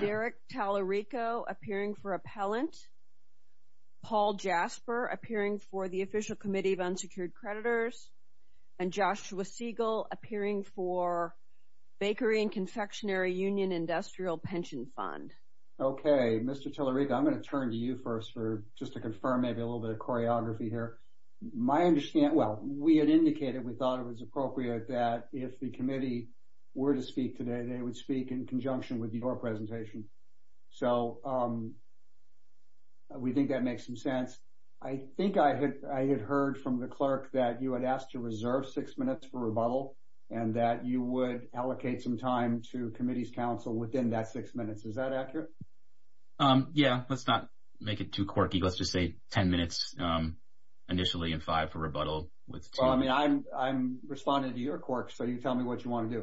Derek Tallarico appearing for Appellant, Paul Jasper appearing for the Official Committee of Unsecured Creditors, and Joshua Siegel appearing for Bakery and Confectionary Union Industrial Pension Fund. Okay, Mr. Tallarico, I'm going to turn to you first for just to confirm maybe a little bit of choreography here. My understanding, well, we had indicated, we thought it was appropriate that if the committee were to speak today, they would speak in conjunction with your presentation. So we think that makes some sense. I think I had heard from the clerk that you had asked to reserve six minutes for rebuttal and that you would allocate some time to committee's counsel within that six minutes. Is that accurate? Yeah, let's not make it too quirky. Let's just say 10 minutes initially and five for rebuttal. Well, I mean, I'm responding to your quirk, so you tell me what you want to do.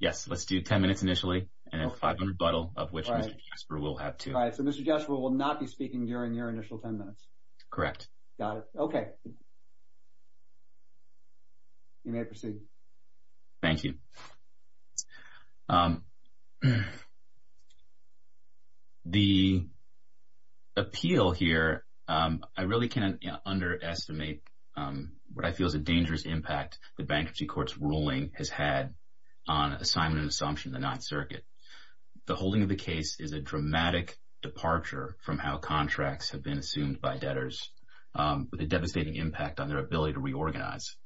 Yes, let's do 10 minutes initially and then five for rebuttal, of which Mr. Jasper will have two. All right, so Mr. Jasper will not be speaking during your initial 10 minutes. Correct. Got it. Okay. You may proceed. Thank you. The appeal here, I really can't underestimate what I feel is a dangerous impact the bankruptcy court's ruling has had on assignment and assumption in the Ninth Circuit. The holding of the case is a dramatic departure from how contracts have been assumed by debtors with a devastating impact on their ability to reorganize.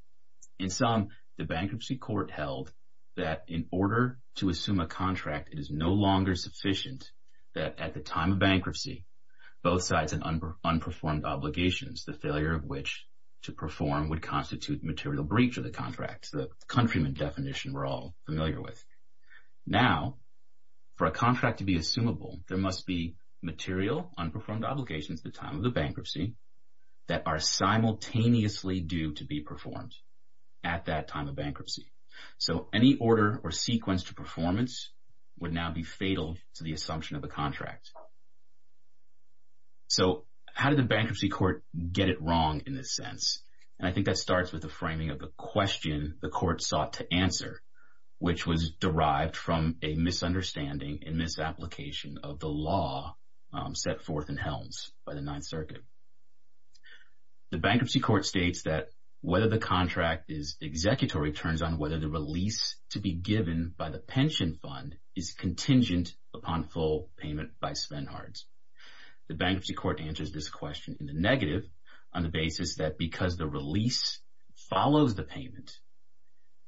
In sum, the bankruptcy court held that in order to assume a contract, it is no longer sufficient that at the time of bankruptcy, both sides had unperformed obligations, the failure of which to perform would constitute material breach of the contract, the countryman definition we're all familiar with. Now, for a contract to be assumable, there must be material unperformed obligations at the time of the bankruptcy that are simultaneously due to be performed at that time of bankruptcy. So any order or sequence to performance would now be fatal to the assumption of a contract. So how did the bankruptcy court get it wrong in this sense? And I think that starts with the framing of the question the court sought to answer, which was derived from a misunderstanding and misapplication of the law set forth in Helms by the Ninth Circuit. The bankruptcy court states that whether the contract is executory turns on whether the release to be given by the pension fund is contingent upon full payment by Svenhards. The bankruptcy court answers this question in the negative on the basis that because the release follows the payment,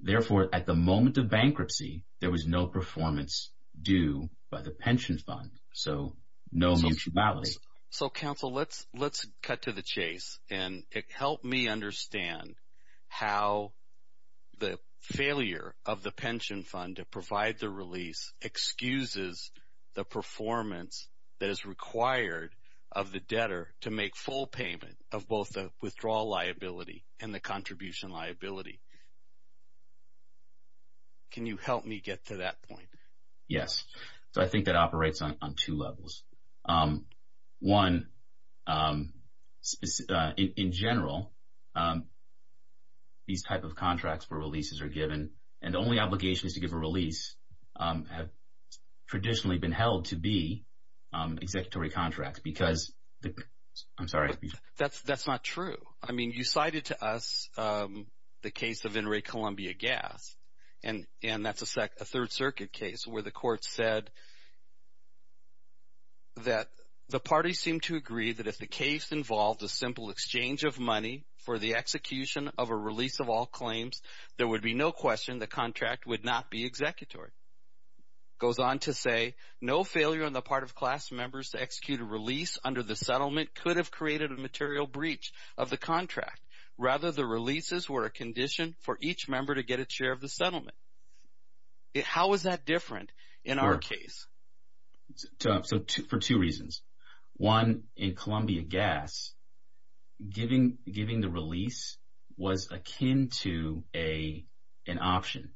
therefore, at the moment of bankruptcy, there was no performance due by the pension fund, so no mutual balance. So, counsel, let's cut to the chase and help me understand how the failure of the pension fund to provide the release excuses the performance that is required of the debtor to make full payment of both the withdrawal liability and the contribution liability. Can you help me get to that point? Yes, so I think that operates on two levels. One, in general, these type of contracts where releases are given and the only obligations to give a release have traditionally been held to be executory contracts because – I'm sorry. That's not true. I mean you cited to us the case of Enrique Columbia Gas, and that's a Third Circuit case where the court said that the parties seemed to agree that if the case involved a simple exchange of money for the execution of a release of all claims, there would be no question the contract would not be executory. It goes on to say, no failure on the part of class members to execute a release under the settlement could have created a material breach of the contract. Rather, the releases were a condition for each member to get a share of the settlement. How is that different in our case? So for two reasons. One, in Columbia Gas, giving the release was akin to an option.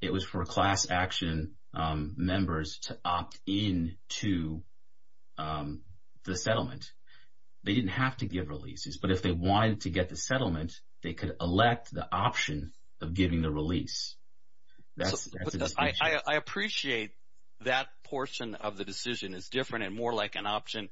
It was for class action members to opt in to the settlement. They didn't have to give releases, but if they wanted to get the settlement, they could elect the option of giving the release. I appreciate that portion of the decision is different and more like an option,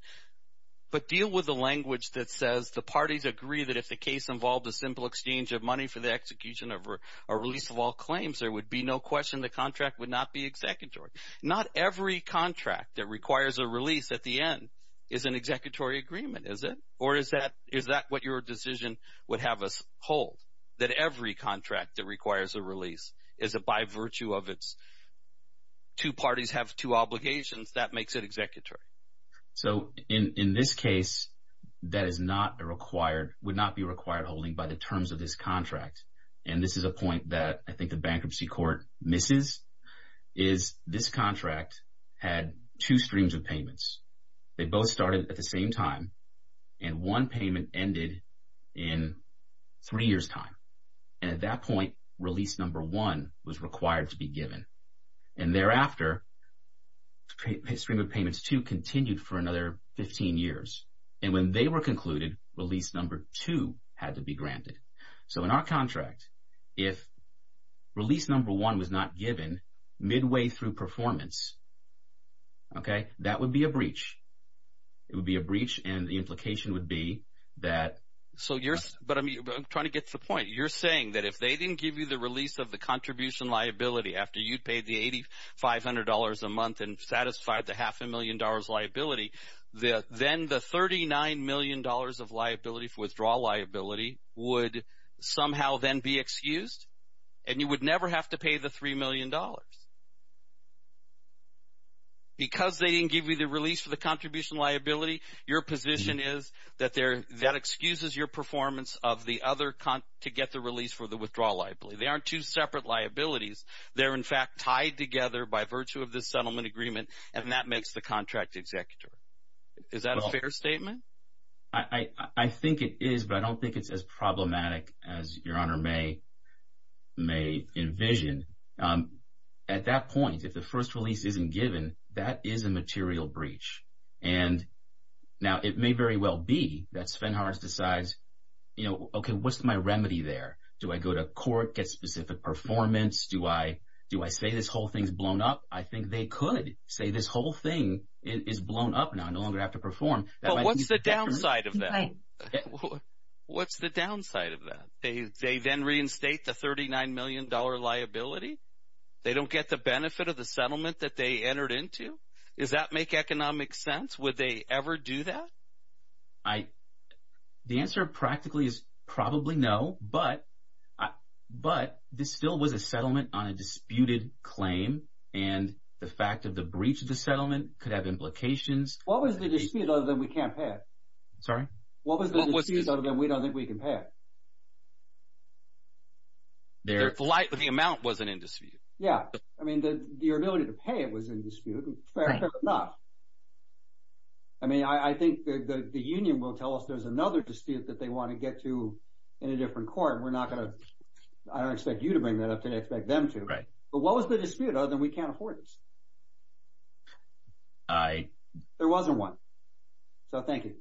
but deal with the language that says the parties agree that if the case involved a simple exchange of money for the execution of a release of all claims, there would be no question the contract would not be executory. Not every contract that requires a release at the end is an executory agreement, is it? Or is that what your decision would have us hold, that every contract that requires a release is by virtue of its two parties have two obligations, that makes it executory? So in this case, that would not be required holding by the terms of this contract. And this is a point that I think the bankruptcy court misses, is this contract had two streams of payments. They both started at the same time, and one payment ended in three years' time. And at that point, release number one was required to be given. And thereafter, stream of payments two continued for another 15 years. And when they were concluded, release number two had to be granted. So in our contract, if release number one was not given midway through performance, that would be a breach. It would be a breach, and the implication would be that… somehow then be excused, and you would never have to pay the $3 million. Because they didn't give you the release for the contribution liability, your position is that that excuses your performance of the other to get the release for the withdrawal liability. They aren't two separate liabilities. They're, in fact, tied together by virtue of this settlement agreement, and that makes the contract executory. Is that a fair statement? I think it is, but I don't think it's as problematic as Your Honor may envision. At that point, if the first release isn't given, that is a material breach. And now it may very well be that Svenhars decides, you know, okay, what's my remedy there? Do I go to court, get specific performance? Do I say this whole thing's blown up? I think they could say this whole thing is blown up now. I no longer have to perform. But what's the downside of that? What's the downside of that? They then reinstate the $39 million liability? They don't get the benefit of the settlement that they entered into? Does that make economic sense? Would they ever do that? The answer practically is probably no, but this still was a settlement on a disputed claim. And the fact of the breach of the settlement could have implications. What was the dispute other than we can't pay it? Sorry? What was the dispute other than we don't think we can pay it? The amount wasn't in dispute. Yeah. I mean your ability to pay it was in dispute. Fair enough. I mean I think the union will tell us there's another dispute that they want to get to in a different court. We're not going to – I don't expect you to bring that up. I expect them to. But what was the dispute other than we can't afford this? There wasn't one, so thank you.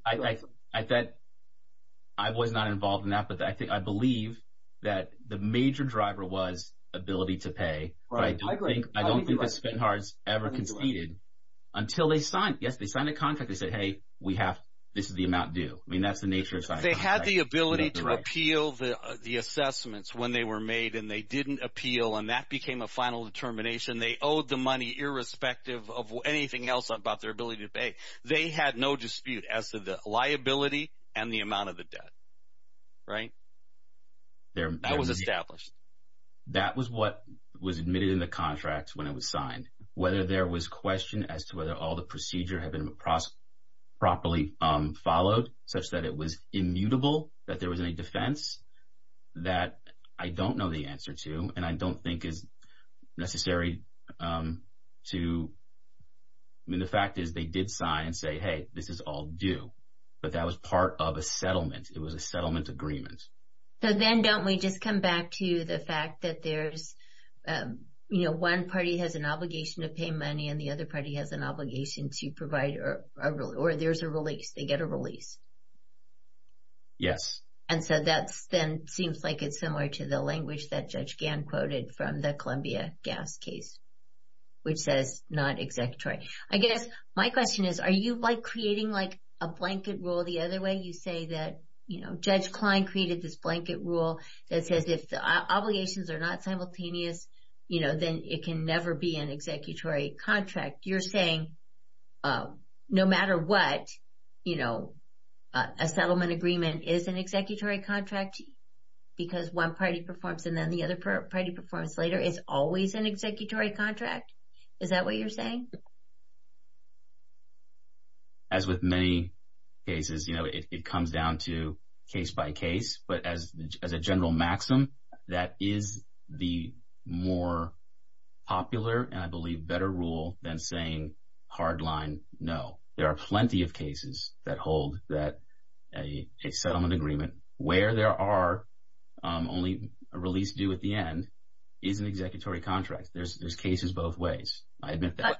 I was not involved in that, but I believe that the major driver was ability to pay. But I don't think the Spinhards ever conceded until they signed – yes, they signed a contract. They said, hey, we have – this is the amount due. I mean that's the nature of signing a contract. They had the ability to appeal the assessments when they were made, and they didn't appeal, and that became a final determination. They owed the money irrespective of anything else about their ability to pay. They had no dispute as to the liability and the amount of the debt, right? That was established. That was what was admitted in the contract when it was signed. Whether there was question as to whether all the procedure had been properly followed such that it was immutable, that there was any defense, that I don't know the answer to, and I don't think is necessary to – I mean the fact is they did sign and say, hey, this is all due. But that was part of a settlement. It was a settlement agreement. So then don't we just come back to the fact that there's, you know, one party has an obligation to pay money and the other party has an obligation to provide – or there's a release. They get a release. Yes. And so that then seems like it's similar to the language that Judge Gann quoted from the Columbia gas case, which says not executory. I guess my question is, are you like creating like a blanket rule the other way? You say that, you know, Judge Klein created this blanket rule that says if the obligations are not simultaneous, you know, then it can never be an executory contract. You're saying no matter what, you know, a settlement agreement is an executory contract because one party performs and then the other party performs later is always an executory contract? Is that what you're saying? As with many cases, you know, it comes down to case by case. But as a general maxim, that is the more popular and I believe better rule than saying hard line no. There are plenty of cases that hold that a settlement agreement where there are only a release due at the end is an executory contract. There's cases both ways. I admit that.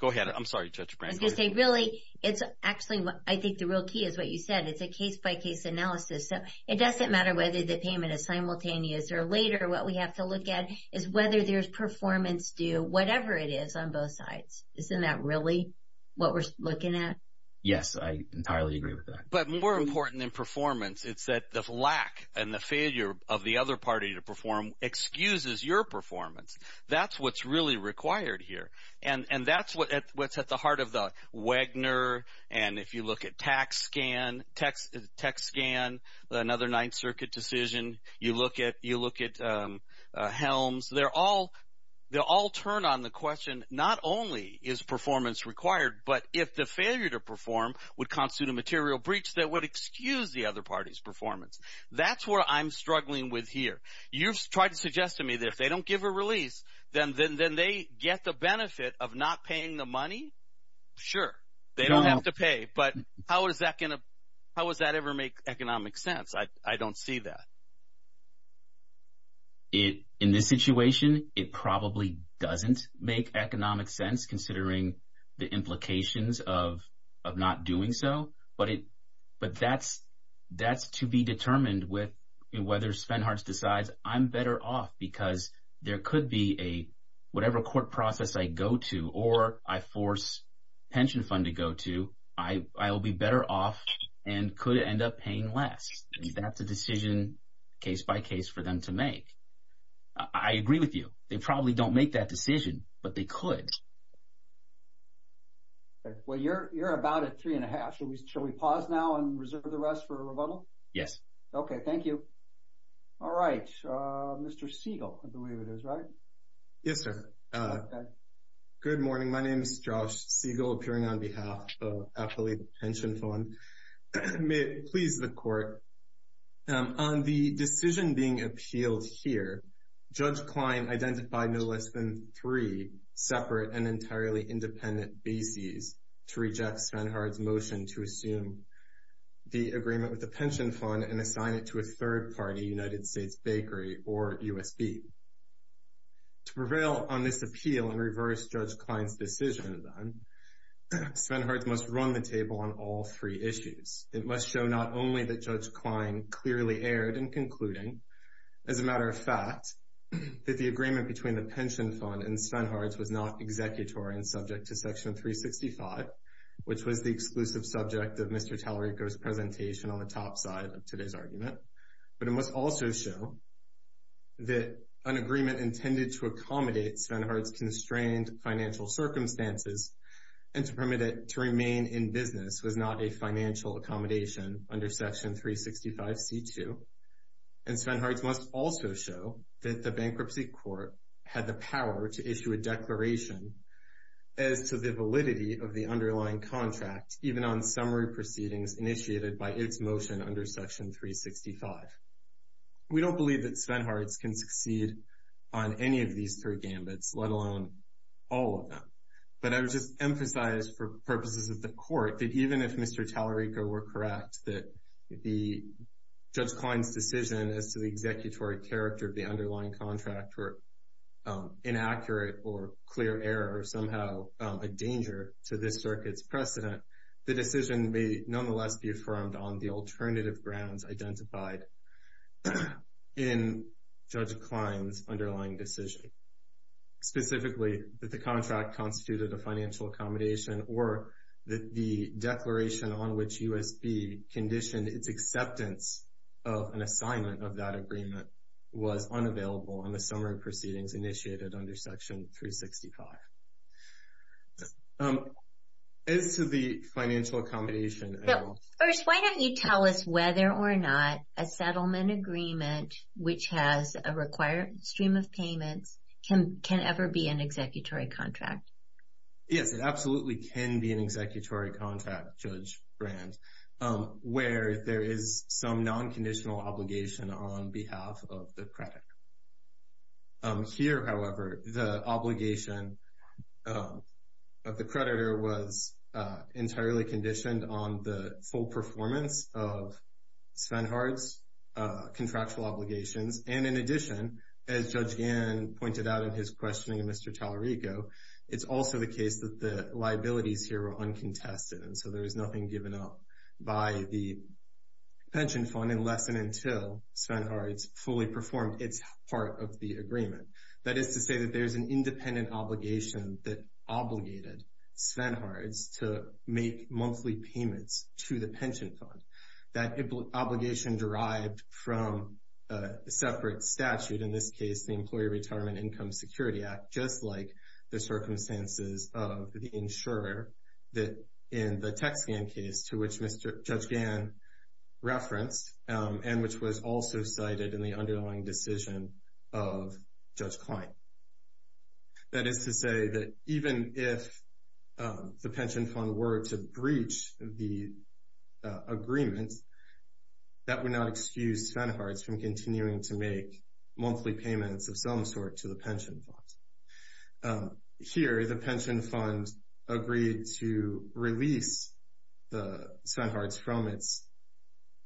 Go ahead. I'm sorry, Judge Brantley. I was going to say, really, it's actually I think the real key is what you said. It's a case by case analysis. So it doesn't matter whether the payment is simultaneous or later. What we have to look at is whether there's performance due, whatever it is on both sides. Isn't that really what we're looking at? Yes, I entirely agree with that. But more important than performance, it's that the lack and the failure of the other party to perform excuses your performance. That's what's really required here. And that's what's at the heart of the Wagner and if you look at tax scan, another Ninth Circuit decision. You look at Helms. They all turn on the question not only is performance required, but if the failure to perform would constitute a material breach that would excuse the other party's performance. That's what I'm struggling with here. You've tried to suggest to me that if they don't give a release, then they get the benefit of not paying the money. Sure, they don't have to pay. But how is that going to – how does that ever make economic sense? I don't see that. In this situation, it probably doesn't make economic sense considering the implications of not doing so. But that's to be determined with whether Spenharts decides I'm better off because there could be a – whatever court process I go to or I force pension fund to go to, I will be better off and could end up paying less. That's a decision case by case for them to make. I agree with you. They probably don't make that decision, but they could. Okay. Well, you're about at three and a half. Shall we pause now and reserve the rest for rebuttal? Yes. Okay. Thank you. All right. Mr. Siegel, I believe it is, right? Yes, sir. Good morning. My name is Josh Siegel, appearing on behalf of Affiliate Pension Fund. May it please the Court, on the decision being appealed here, Judge Klein identified no less than three separate and entirely independent bases to reject Spenharts' motion to assume the agreement with the pension fund and assign it to a third-party United States bakery or USB. To prevail on this appeal and reverse Judge Klein's decision, then, Spenharts must run the table on all three issues. It must show not only that Judge Klein clearly erred in concluding, as a matter of fact, that the agreement between the pension fund and Spenharts was not executory and subject to Section 365, which was the exclusive subject of Mr. Tallarico's presentation on the top side of today's argument, but it must also show that an agreement intended to accommodate Spenharts' constrained financial circumstances and to permit it to remain in business was not a financial accommodation under Section 365c2, and Spenharts must also show that the Bankruptcy Court had the power to issue a declaration as to the validity of the underlying contract, even on summary proceedings initiated by its motion under Section 365. We don't believe that Spenharts can succeed on any of these three gambits, let alone all of them, but I would just emphasize for purposes of the Court that even if Mr. Tallarico were correct that Judge Klein's decision as to the executory character of the underlying contract were inaccurate or clear error or somehow a danger to this circuit's precedent, the decision may nonetheless be affirmed on the alternative grounds identified in Judge Klein's underlying decision, namely, specifically, that the contract constituted a financial accommodation or that the declaration on which U.S.B. conditioned its acceptance of an assignment of that agreement was unavailable on the summary proceedings initiated under Section 365. As to the financial accommodation… Can it ever be an executory contract? Yes, it absolutely can be an executory contract, Judge Brand, where there is some non-conditional obligation on behalf of the creditor. Here, however, the obligation of the creditor was entirely conditioned on the full performance of Spenharts' contractual obligations, and in addition, as Judge Gann pointed out in his questioning of Mr. Tallarico, it's also the case that the liabilities here were uncontested, and so there was nothing given up by the pension fund unless and until Spenharts fully performed its part of the agreement. That is to say that there's an independent obligation that obligated Spenharts to make monthly payments to the pension fund. That obligation derived from a separate statute, in this case, the Employee Retirement Income Security Act, just like the circumstances of the insurer in the Tax Gann case to which Judge Gann referenced and which was also cited in the underlying decision of Judge Klein. That is to say that even if the pension fund were to breach the agreement, that would not excuse Spenharts from continuing to make monthly payments of some sort to the pension fund. Here, the pension fund agreed to release Spenharts from its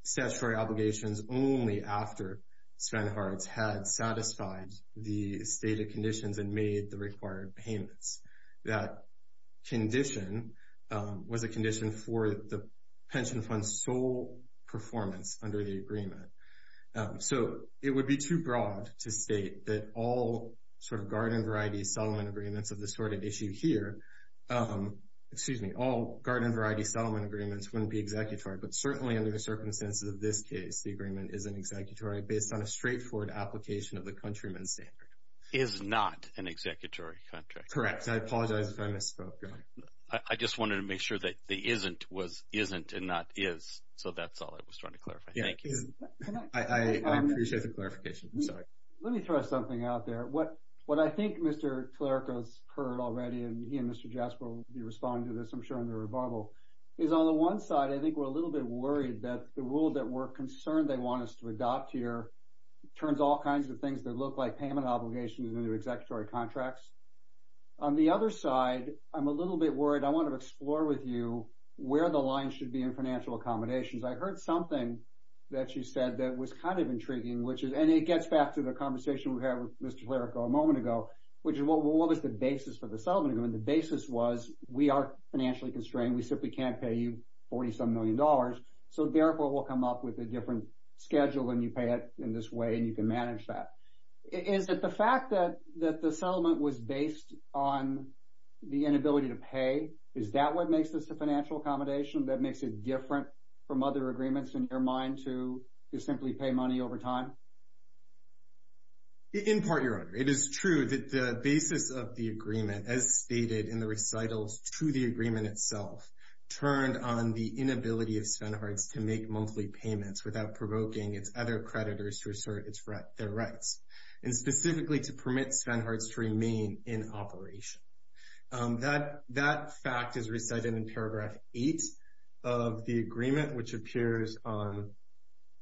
statutory obligations only after Spenharts had satisfied the stated conditions and made the required payments. That condition was a condition for the pension fund's sole performance under the agreement. So, it would be too broad to state that all sort of garden variety settlement agreements of this sort of issue here, excuse me, all garden variety settlement agreements wouldn't be executory, but certainly under the circumstances of this case, the agreement is an executory based on a straightforward application of the countrymen's standard. Is not an executory contract. Correct. I apologize if I misspoke. I just wanted to make sure that the isn't was isn't and not is, so that's all I was trying to clarify. Thank you. I appreciate the clarification. I'm sorry. Let me throw something out there. What I think Mr. Tlarico has heard already, and he and Mr. Jasper will be responding to this, I'm sure, in the rebuttal, is on the one side, I think we're a little bit worried that the rule that we're concerned they want us to adopt here turns all kinds of things that look like payment obligations into executory contracts. On the other side, I'm a little bit worried. I want to explore with you where the line should be in financial accommodations. I heard something that you said that was kind of intriguing, and it gets back to the conversation we had with Mr. Tlarico a moment ago, which is what was the basis for the settlement agreement. The basis was we are financially constrained. We simply can't pay you $40-some million, so therefore we'll come up with a different schedule when you pay it in this way and you can manage that. Is it the fact that the settlement was based on the inability to pay? Is that what makes this a financial accommodation? That makes it different from other agreements in your mind to simply pay money over time? In part, Your Honor, it is true that the basis of the agreement, as stated in the recitals to the agreement itself, turned on the inability of Svenharts to make monthly payments without provoking its other creditors to assert their rights, and specifically to permit Svenharts to remain in operation. That fact is recited in paragraph 8 of the agreement, which appears on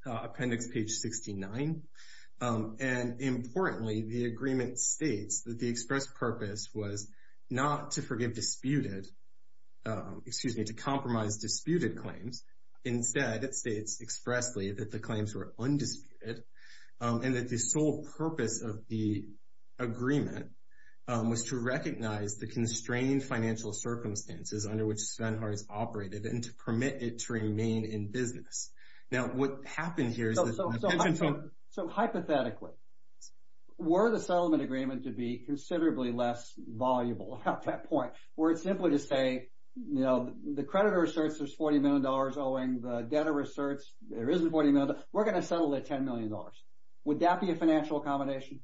appendix page 69. And importantly, the agreement states that the express purpose was not to forgive disputed, excuse me, to compromise disputed claims. Instead, it states expressly that the claims were undisputed and that the sole purpose of the agreement was to recognize the constrained financial circumstances under which Svenharts operated and to permit it to remain in business. Now, what happened here is that— So hypothetically, were the settlement agreement to be considerably less valuable at that point, were it simply to say, you know, the creditor asserts there's $40 million owing, the debtor asserts there isn't $40 million, we're going to settle at $10 million. Would that be a financial accommodation?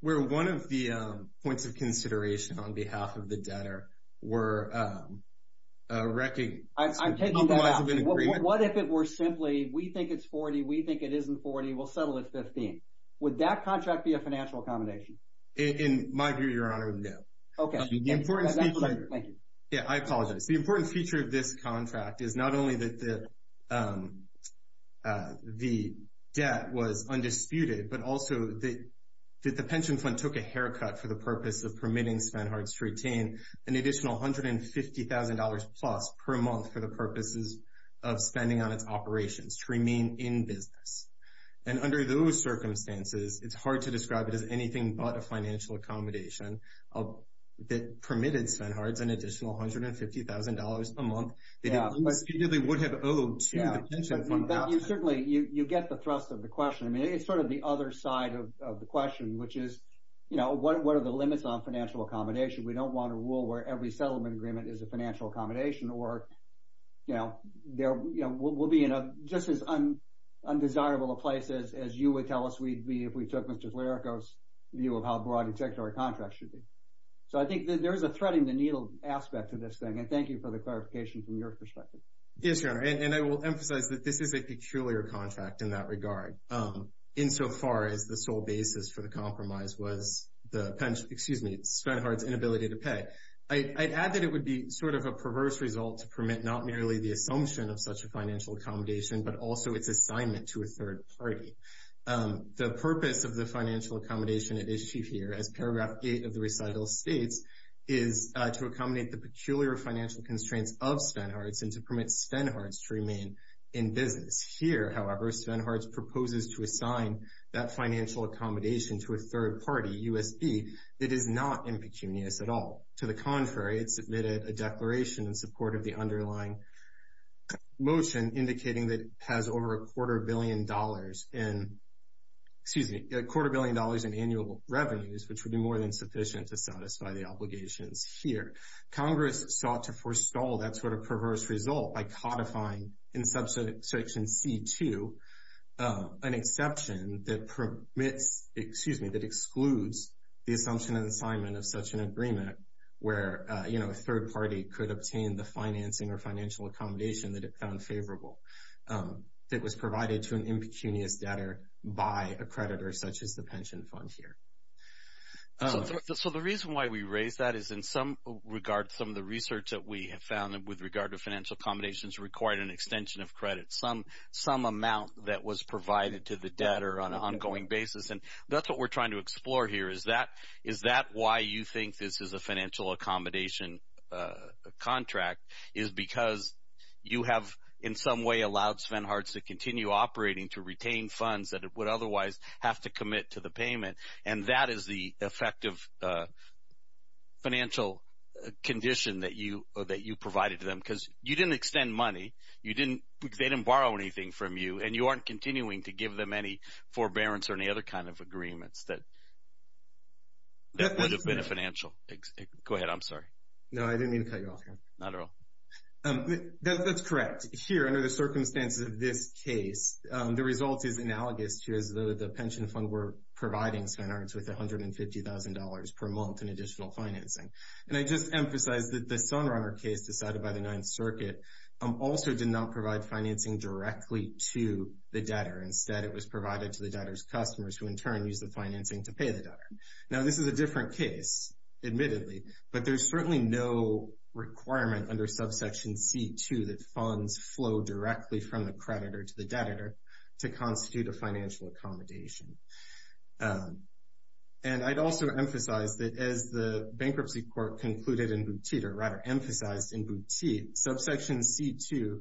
Where one of the points of consideration on behalf of the debtor were recognizing— I'm taking that. What if it were simply, we think it's $40, we think it isn't $40, we'll settle at $15? Would that contract be a financial accommodation? In my view, Your Honor, no. Okay. Thank you. Yeah, I apologize. The important feature of this contract is not only that the debt was undisputed, but also that the pension fund took a haircut for the purpose of permitting Svenharts to retain an additional $150,000 plus per month for the purposes of spending on its operations to remain in business. And under those circumstances, it's hard to describe it as anything but a financial accommodation that permitted Svenharts an additional $150,000 per month that he undisputedly would have owed to the pension fund. You certainly—you get the thrust of the question. I mean, it's sort of the other side of the question, which is, you know, what are the limits on financial accommodation? We don't want a rule where every settlement agreement is a financial accommodation, or, you know, we'll be in just as undesirable a place as you would tell us we'd be if we took Mr. Flaherty's view of how broad integratory contracts should be. So I think there is a threading the needle aspect to this thing, and thank you for the clarification from your perspective. Yes, Your Honor, and I will emphasize that this is a peculiar contract in that regard, insofar as the sole basis for the compromise was the pension—excuse me, Svenharts' inability to pay. I'd add that it would be sort of a perverse result to permit not merely the assumption of such a financial accommodation, but also its assignment to a third party. The purpose of the financial accommodation at issue here, as paragraph 8 of the recital states, is to accommodate the peculiar financial constraints of Svenharts and to permit Svenharts to remain in business. Here, however, Svenharts proposes to assign that financial accommodation to a third party, U.S.B., that is not impecunious at all. To the contrary, it submitted a declaration in support of the underlying motion, indicating that it has over a quarter billion dollars in—excuse me, a quarter billion dollars in annual revenues, which would be more than sufficient to satisfy the obligations here. Congress sought to forestall that sort of perverse result by codifying in Subsection C-2 an exception that permits—excuse me, that excludes the assumption and assignment of such an agreement where, you know, a third party could obtain the financing or financial accommodation that it found favorable that was provided to an impecunious debtor by a creditor such as the pension fund here. So the reason why we raise that is in some regard some of the research that we have found with regard to financial accommodations required an extension of credit, some amount that was provided to the debtor on an ongoing basis, and that's what we're trying to explore here, is that why you think this is a financial accommodation contract, is because you have in some way allowed Svenharts to continue operating to retain funds that it would otherwise have to commit to the payment, and that is the effective financial condition that you provided to them, because you didn't extend money. They didn't borrow anything from you, and you aren't continuing to give them any forbearance or any other kind of agreements that would have been financial. Go ahead. I'm sorry. No, I didn't mean to cut you off here. Not at all. That's correct. Here, under the circumstances of this case, the result is analogous to as though the pension fund were providing Svenharts with $150,000 per month in additional financing, and I just emphasize that the Sunrunner case decided by the Ninth Circuit also did not provide financing directly to the debtor. Instead, it was provided to the debtor's customers, who in turn used the financing to pay the debtor. Now, this is a different case, admittedly, but there's certainly no requirement under Subsection C2 that funds flow directly from the creditor to the debtor to constitute a financial accommodation. And I'd also emphasize that as the Bankruptcy Court concluded in Boutitte, or rather emphasized in Boutitte, Subsection C2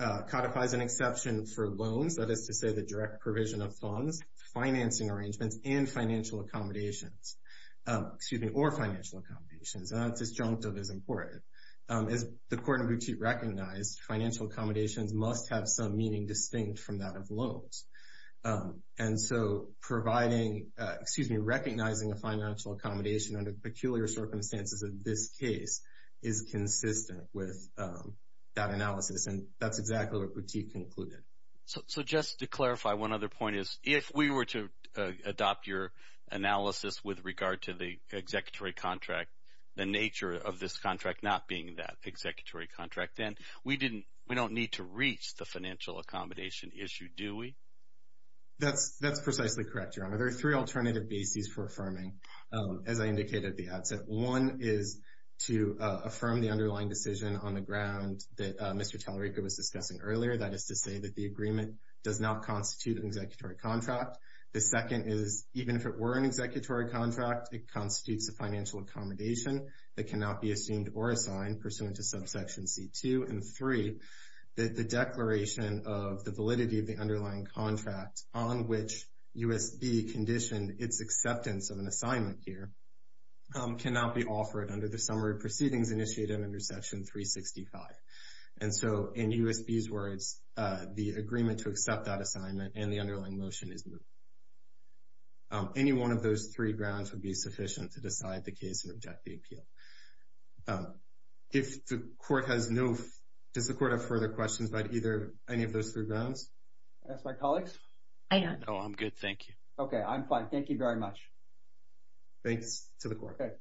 codifies an exception for loans, that is to say the direct provision of funds, financing arrangements, and financial accommodations. Excuse me, or financial accommodations. And that disjunctive is important. As the Court in Boutitte recognized, financial accommodations must have some meaning distinct from that of loans. And so recognizing a financial accommodation under peculiar circumstances in this case is consistent with that analysis, and that's exactly what Boutitte concluded. So just to clarify, one other point is if we were to adopt your analysis with regard to the executory contract, the nature of this contract not being that executory contract, then we don't need to reach the financial accommodation issue, do we? That's precisely correct, Your Honor. There are three alternative bases for affirming, as I indicated at the outset. One is to affirm the underlying decision on the ground that Mr. Tallarico was discussing earlier, that is to say that the agreement does not constitute an executory contract. The second is even if it were an executory contract, it constitutes a financial accommodation that cannot be assumed or assigned pursuant to subsection C2. And three, the declaration of the validity of the underlying contract on which USB conditioned its acceptance of an assignment here cannot be offered under the summary of proceedings initiated under section 365. And so in USB's words, the agreement to accept that assignment and the underlying motion is moved. Any one of those three grounds would be sufficient to decide the case and object the appeal. If the court has no further questions, does the court have further questions about either any of those three grounds? Ask my colleagues? I don't. No, I'm good. Thank you. Okay, I'm fine. Thank you very much. Thanks to the court. Okay.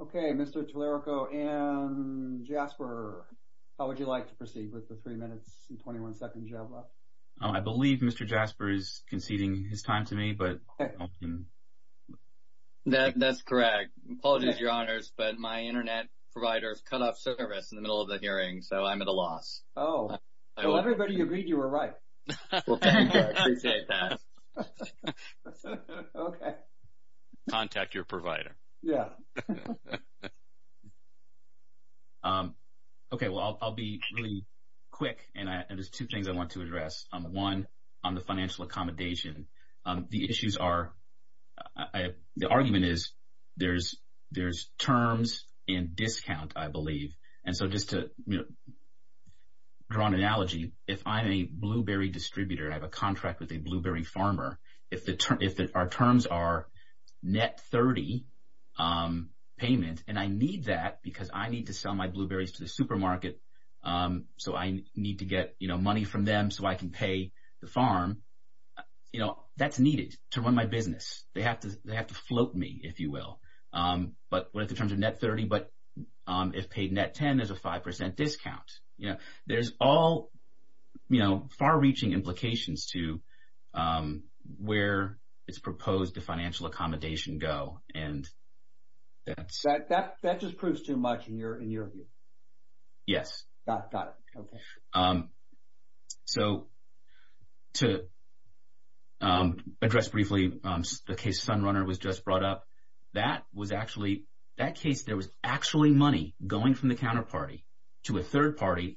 Okay, Mr. Tallarico and Jasper, how would you like to proceed with the three minutes and 21 seconds you have left? I believe Mr. Jasper is conceding his time to me. That's correct. Apologies, Your Honors, but my internet provider has cut off service in the middle of the hearing, so I'm at a loss. Oh. Well, everybody agreed you were right. Well, thank you. I appreciate that. Okay. Contact your provider. Yeah. Okay, well, I'll be really quick, and there's two things I want to address. One, on the financial accommodation, the issues are – the argument is there's terms and discount, I believe. And so just to draw an analogy, if I'm a blueberry distributor and I have a contract with a blueberry farmer, if our terms are net 30 payment, and I need that because I need to sell my blueberries to the supermarket, so I need to get money from them so I can pay the farm, that's needed to run my business. They have to float me, if you will. But what are the terms of net 30? But if paid net 10, there's a 5% discount. There's all far-reaching implications to where it's proposed the financial accommodation go, and that's – That just proves too much in your view. Yes. Got it. Okay. So to address briefly the case Sunrunner was just brought up, that was actually – and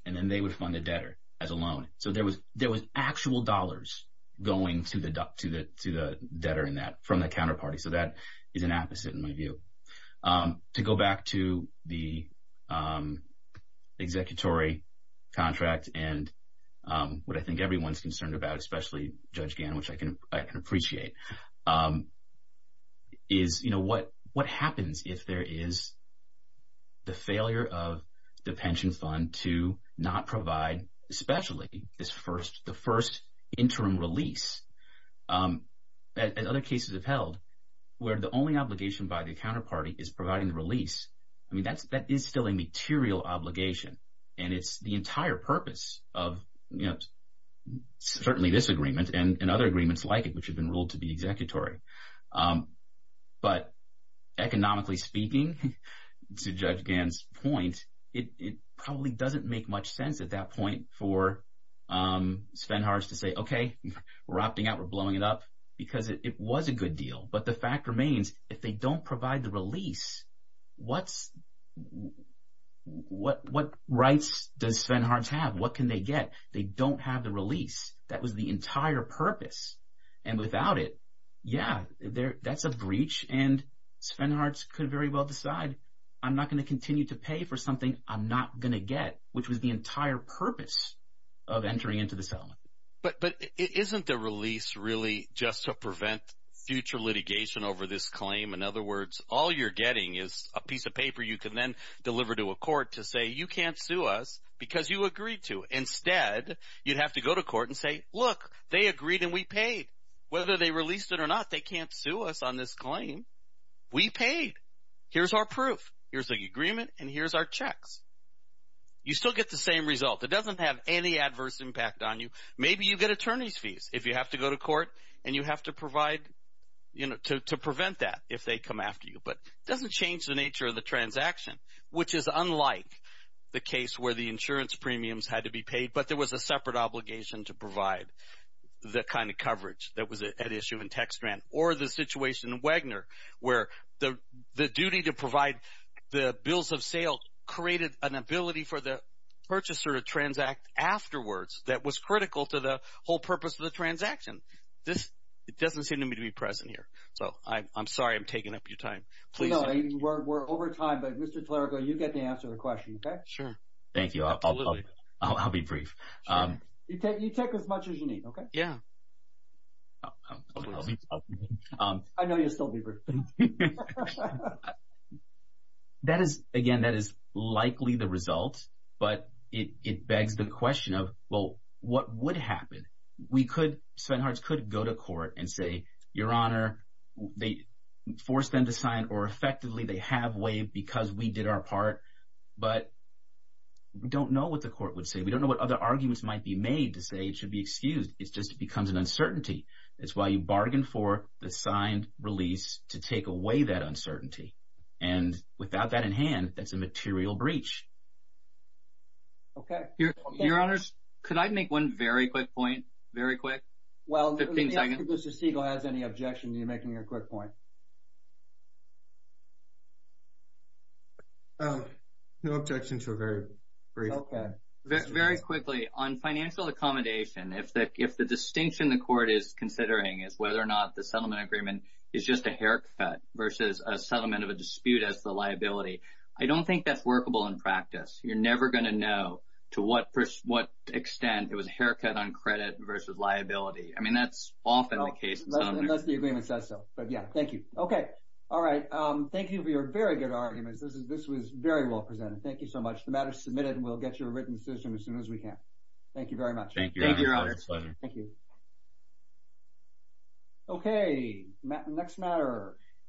then they would fund the debtor as a loan. So there was actual dollars going to the debtor in that from the counterparty. So that is an opposite in my view. To go back to the executory contract and what I think everyone's concerned about, especially Judge Gannon, which I can appreciate, is what happens if there is the failure of the pension fund to not provide, especially the first interim release that other cases have held, where the only obligation by the counterparty is providing the release. I mean, that is still a material obligation, and it's the entire purpose of certainly this agreement and other agreements like it, which have been ruled to be executory. But economically speaking, to Judge Gannon's point, it probably doesn't make much sense at that point for Svenharts to say, okay, we're opting out. We're blowing it up because it was a good deal. But the fact remains if they don't provide the release, what rights does Svenharts have? What can they get? They don't have the release. That was the entire purpose, and without it, yeah, that's a breach, and Svenharts could very well decide I'm not going to continue to pay for something I'm not going to get, which was the entire purpose of entering into the settlement. But isn't the release really just to prevent future litigation over this claim? In other words, all you're getting is a piece of paper you can then deliver to a court to say you can't sue us because you agreed to. Instead, you'd have to go to court and say, look, they agreed and we paid. Whether they released it or not, they can't sue us on this claim. We paid. Here's our proof. Here's the agreement, and here's our checks. You still get the same result. It doesn't have any adverse impact on you. Maybe you get attorney's fees if you have to go to court and you have to provide to prevent that if they come after you. But it doesn't change the nature of the transaction, which is unlike the case where the insurance premiums had to be paid, but there was a separate obligation to provide the kind of coverage that was at issue in TextGrant or the situation in Wagner where the duty to provide the bills of sale created an ability for the purchaser to transact afterwards that was critical to the whole purpose of the transaction. It doesn't seem to me to be present here, so I'm sorry I'm taking up your time. We're over time, but Mr. Tlarico, you get to answer the question, okay? Sure. Thank you. I'll be brief. You take as much as you need, okay? Yeah. Again, that is likely the result, but it begs the question of, well, what would happen? We could—Svenhards could go to court and say, Your Honor, they forced them to sign, or effectively they have waived because we did our part, but we don't know what the court would say. We don't know what other arguments might be made to say it should be excused. It just becomes an uncertainty. That's why you bargain for the signed release to take away that uncertainty. And without that in hand, that's a material breach. Okay. Your Honors, could I make one very quick point, very quick, 15 seconds? Well, let me ask if Mr. Siegel has any objection to you making a quick point. No objections. We're very brief. Okay. Very quickly, on financial accommodation, if the distinction the court is considering is whether or not the settlement agreement is just a haircut versus a settlement of a dispute as the liability, I don't think that's workable in practice. You're never going to know to what extent it was a haircut on credit versus liability. I mean, that's often the case. Unless the agreement says so. But, yeah, thank you. Okay. All right. Thank you for your very good arguments. This was very well presented. Thank you so much. The matter is submitted, and we'll get you a written decision as soon as we can. Thank you very much. Thank you, Your Honor. Thank you. Okay. Next matter.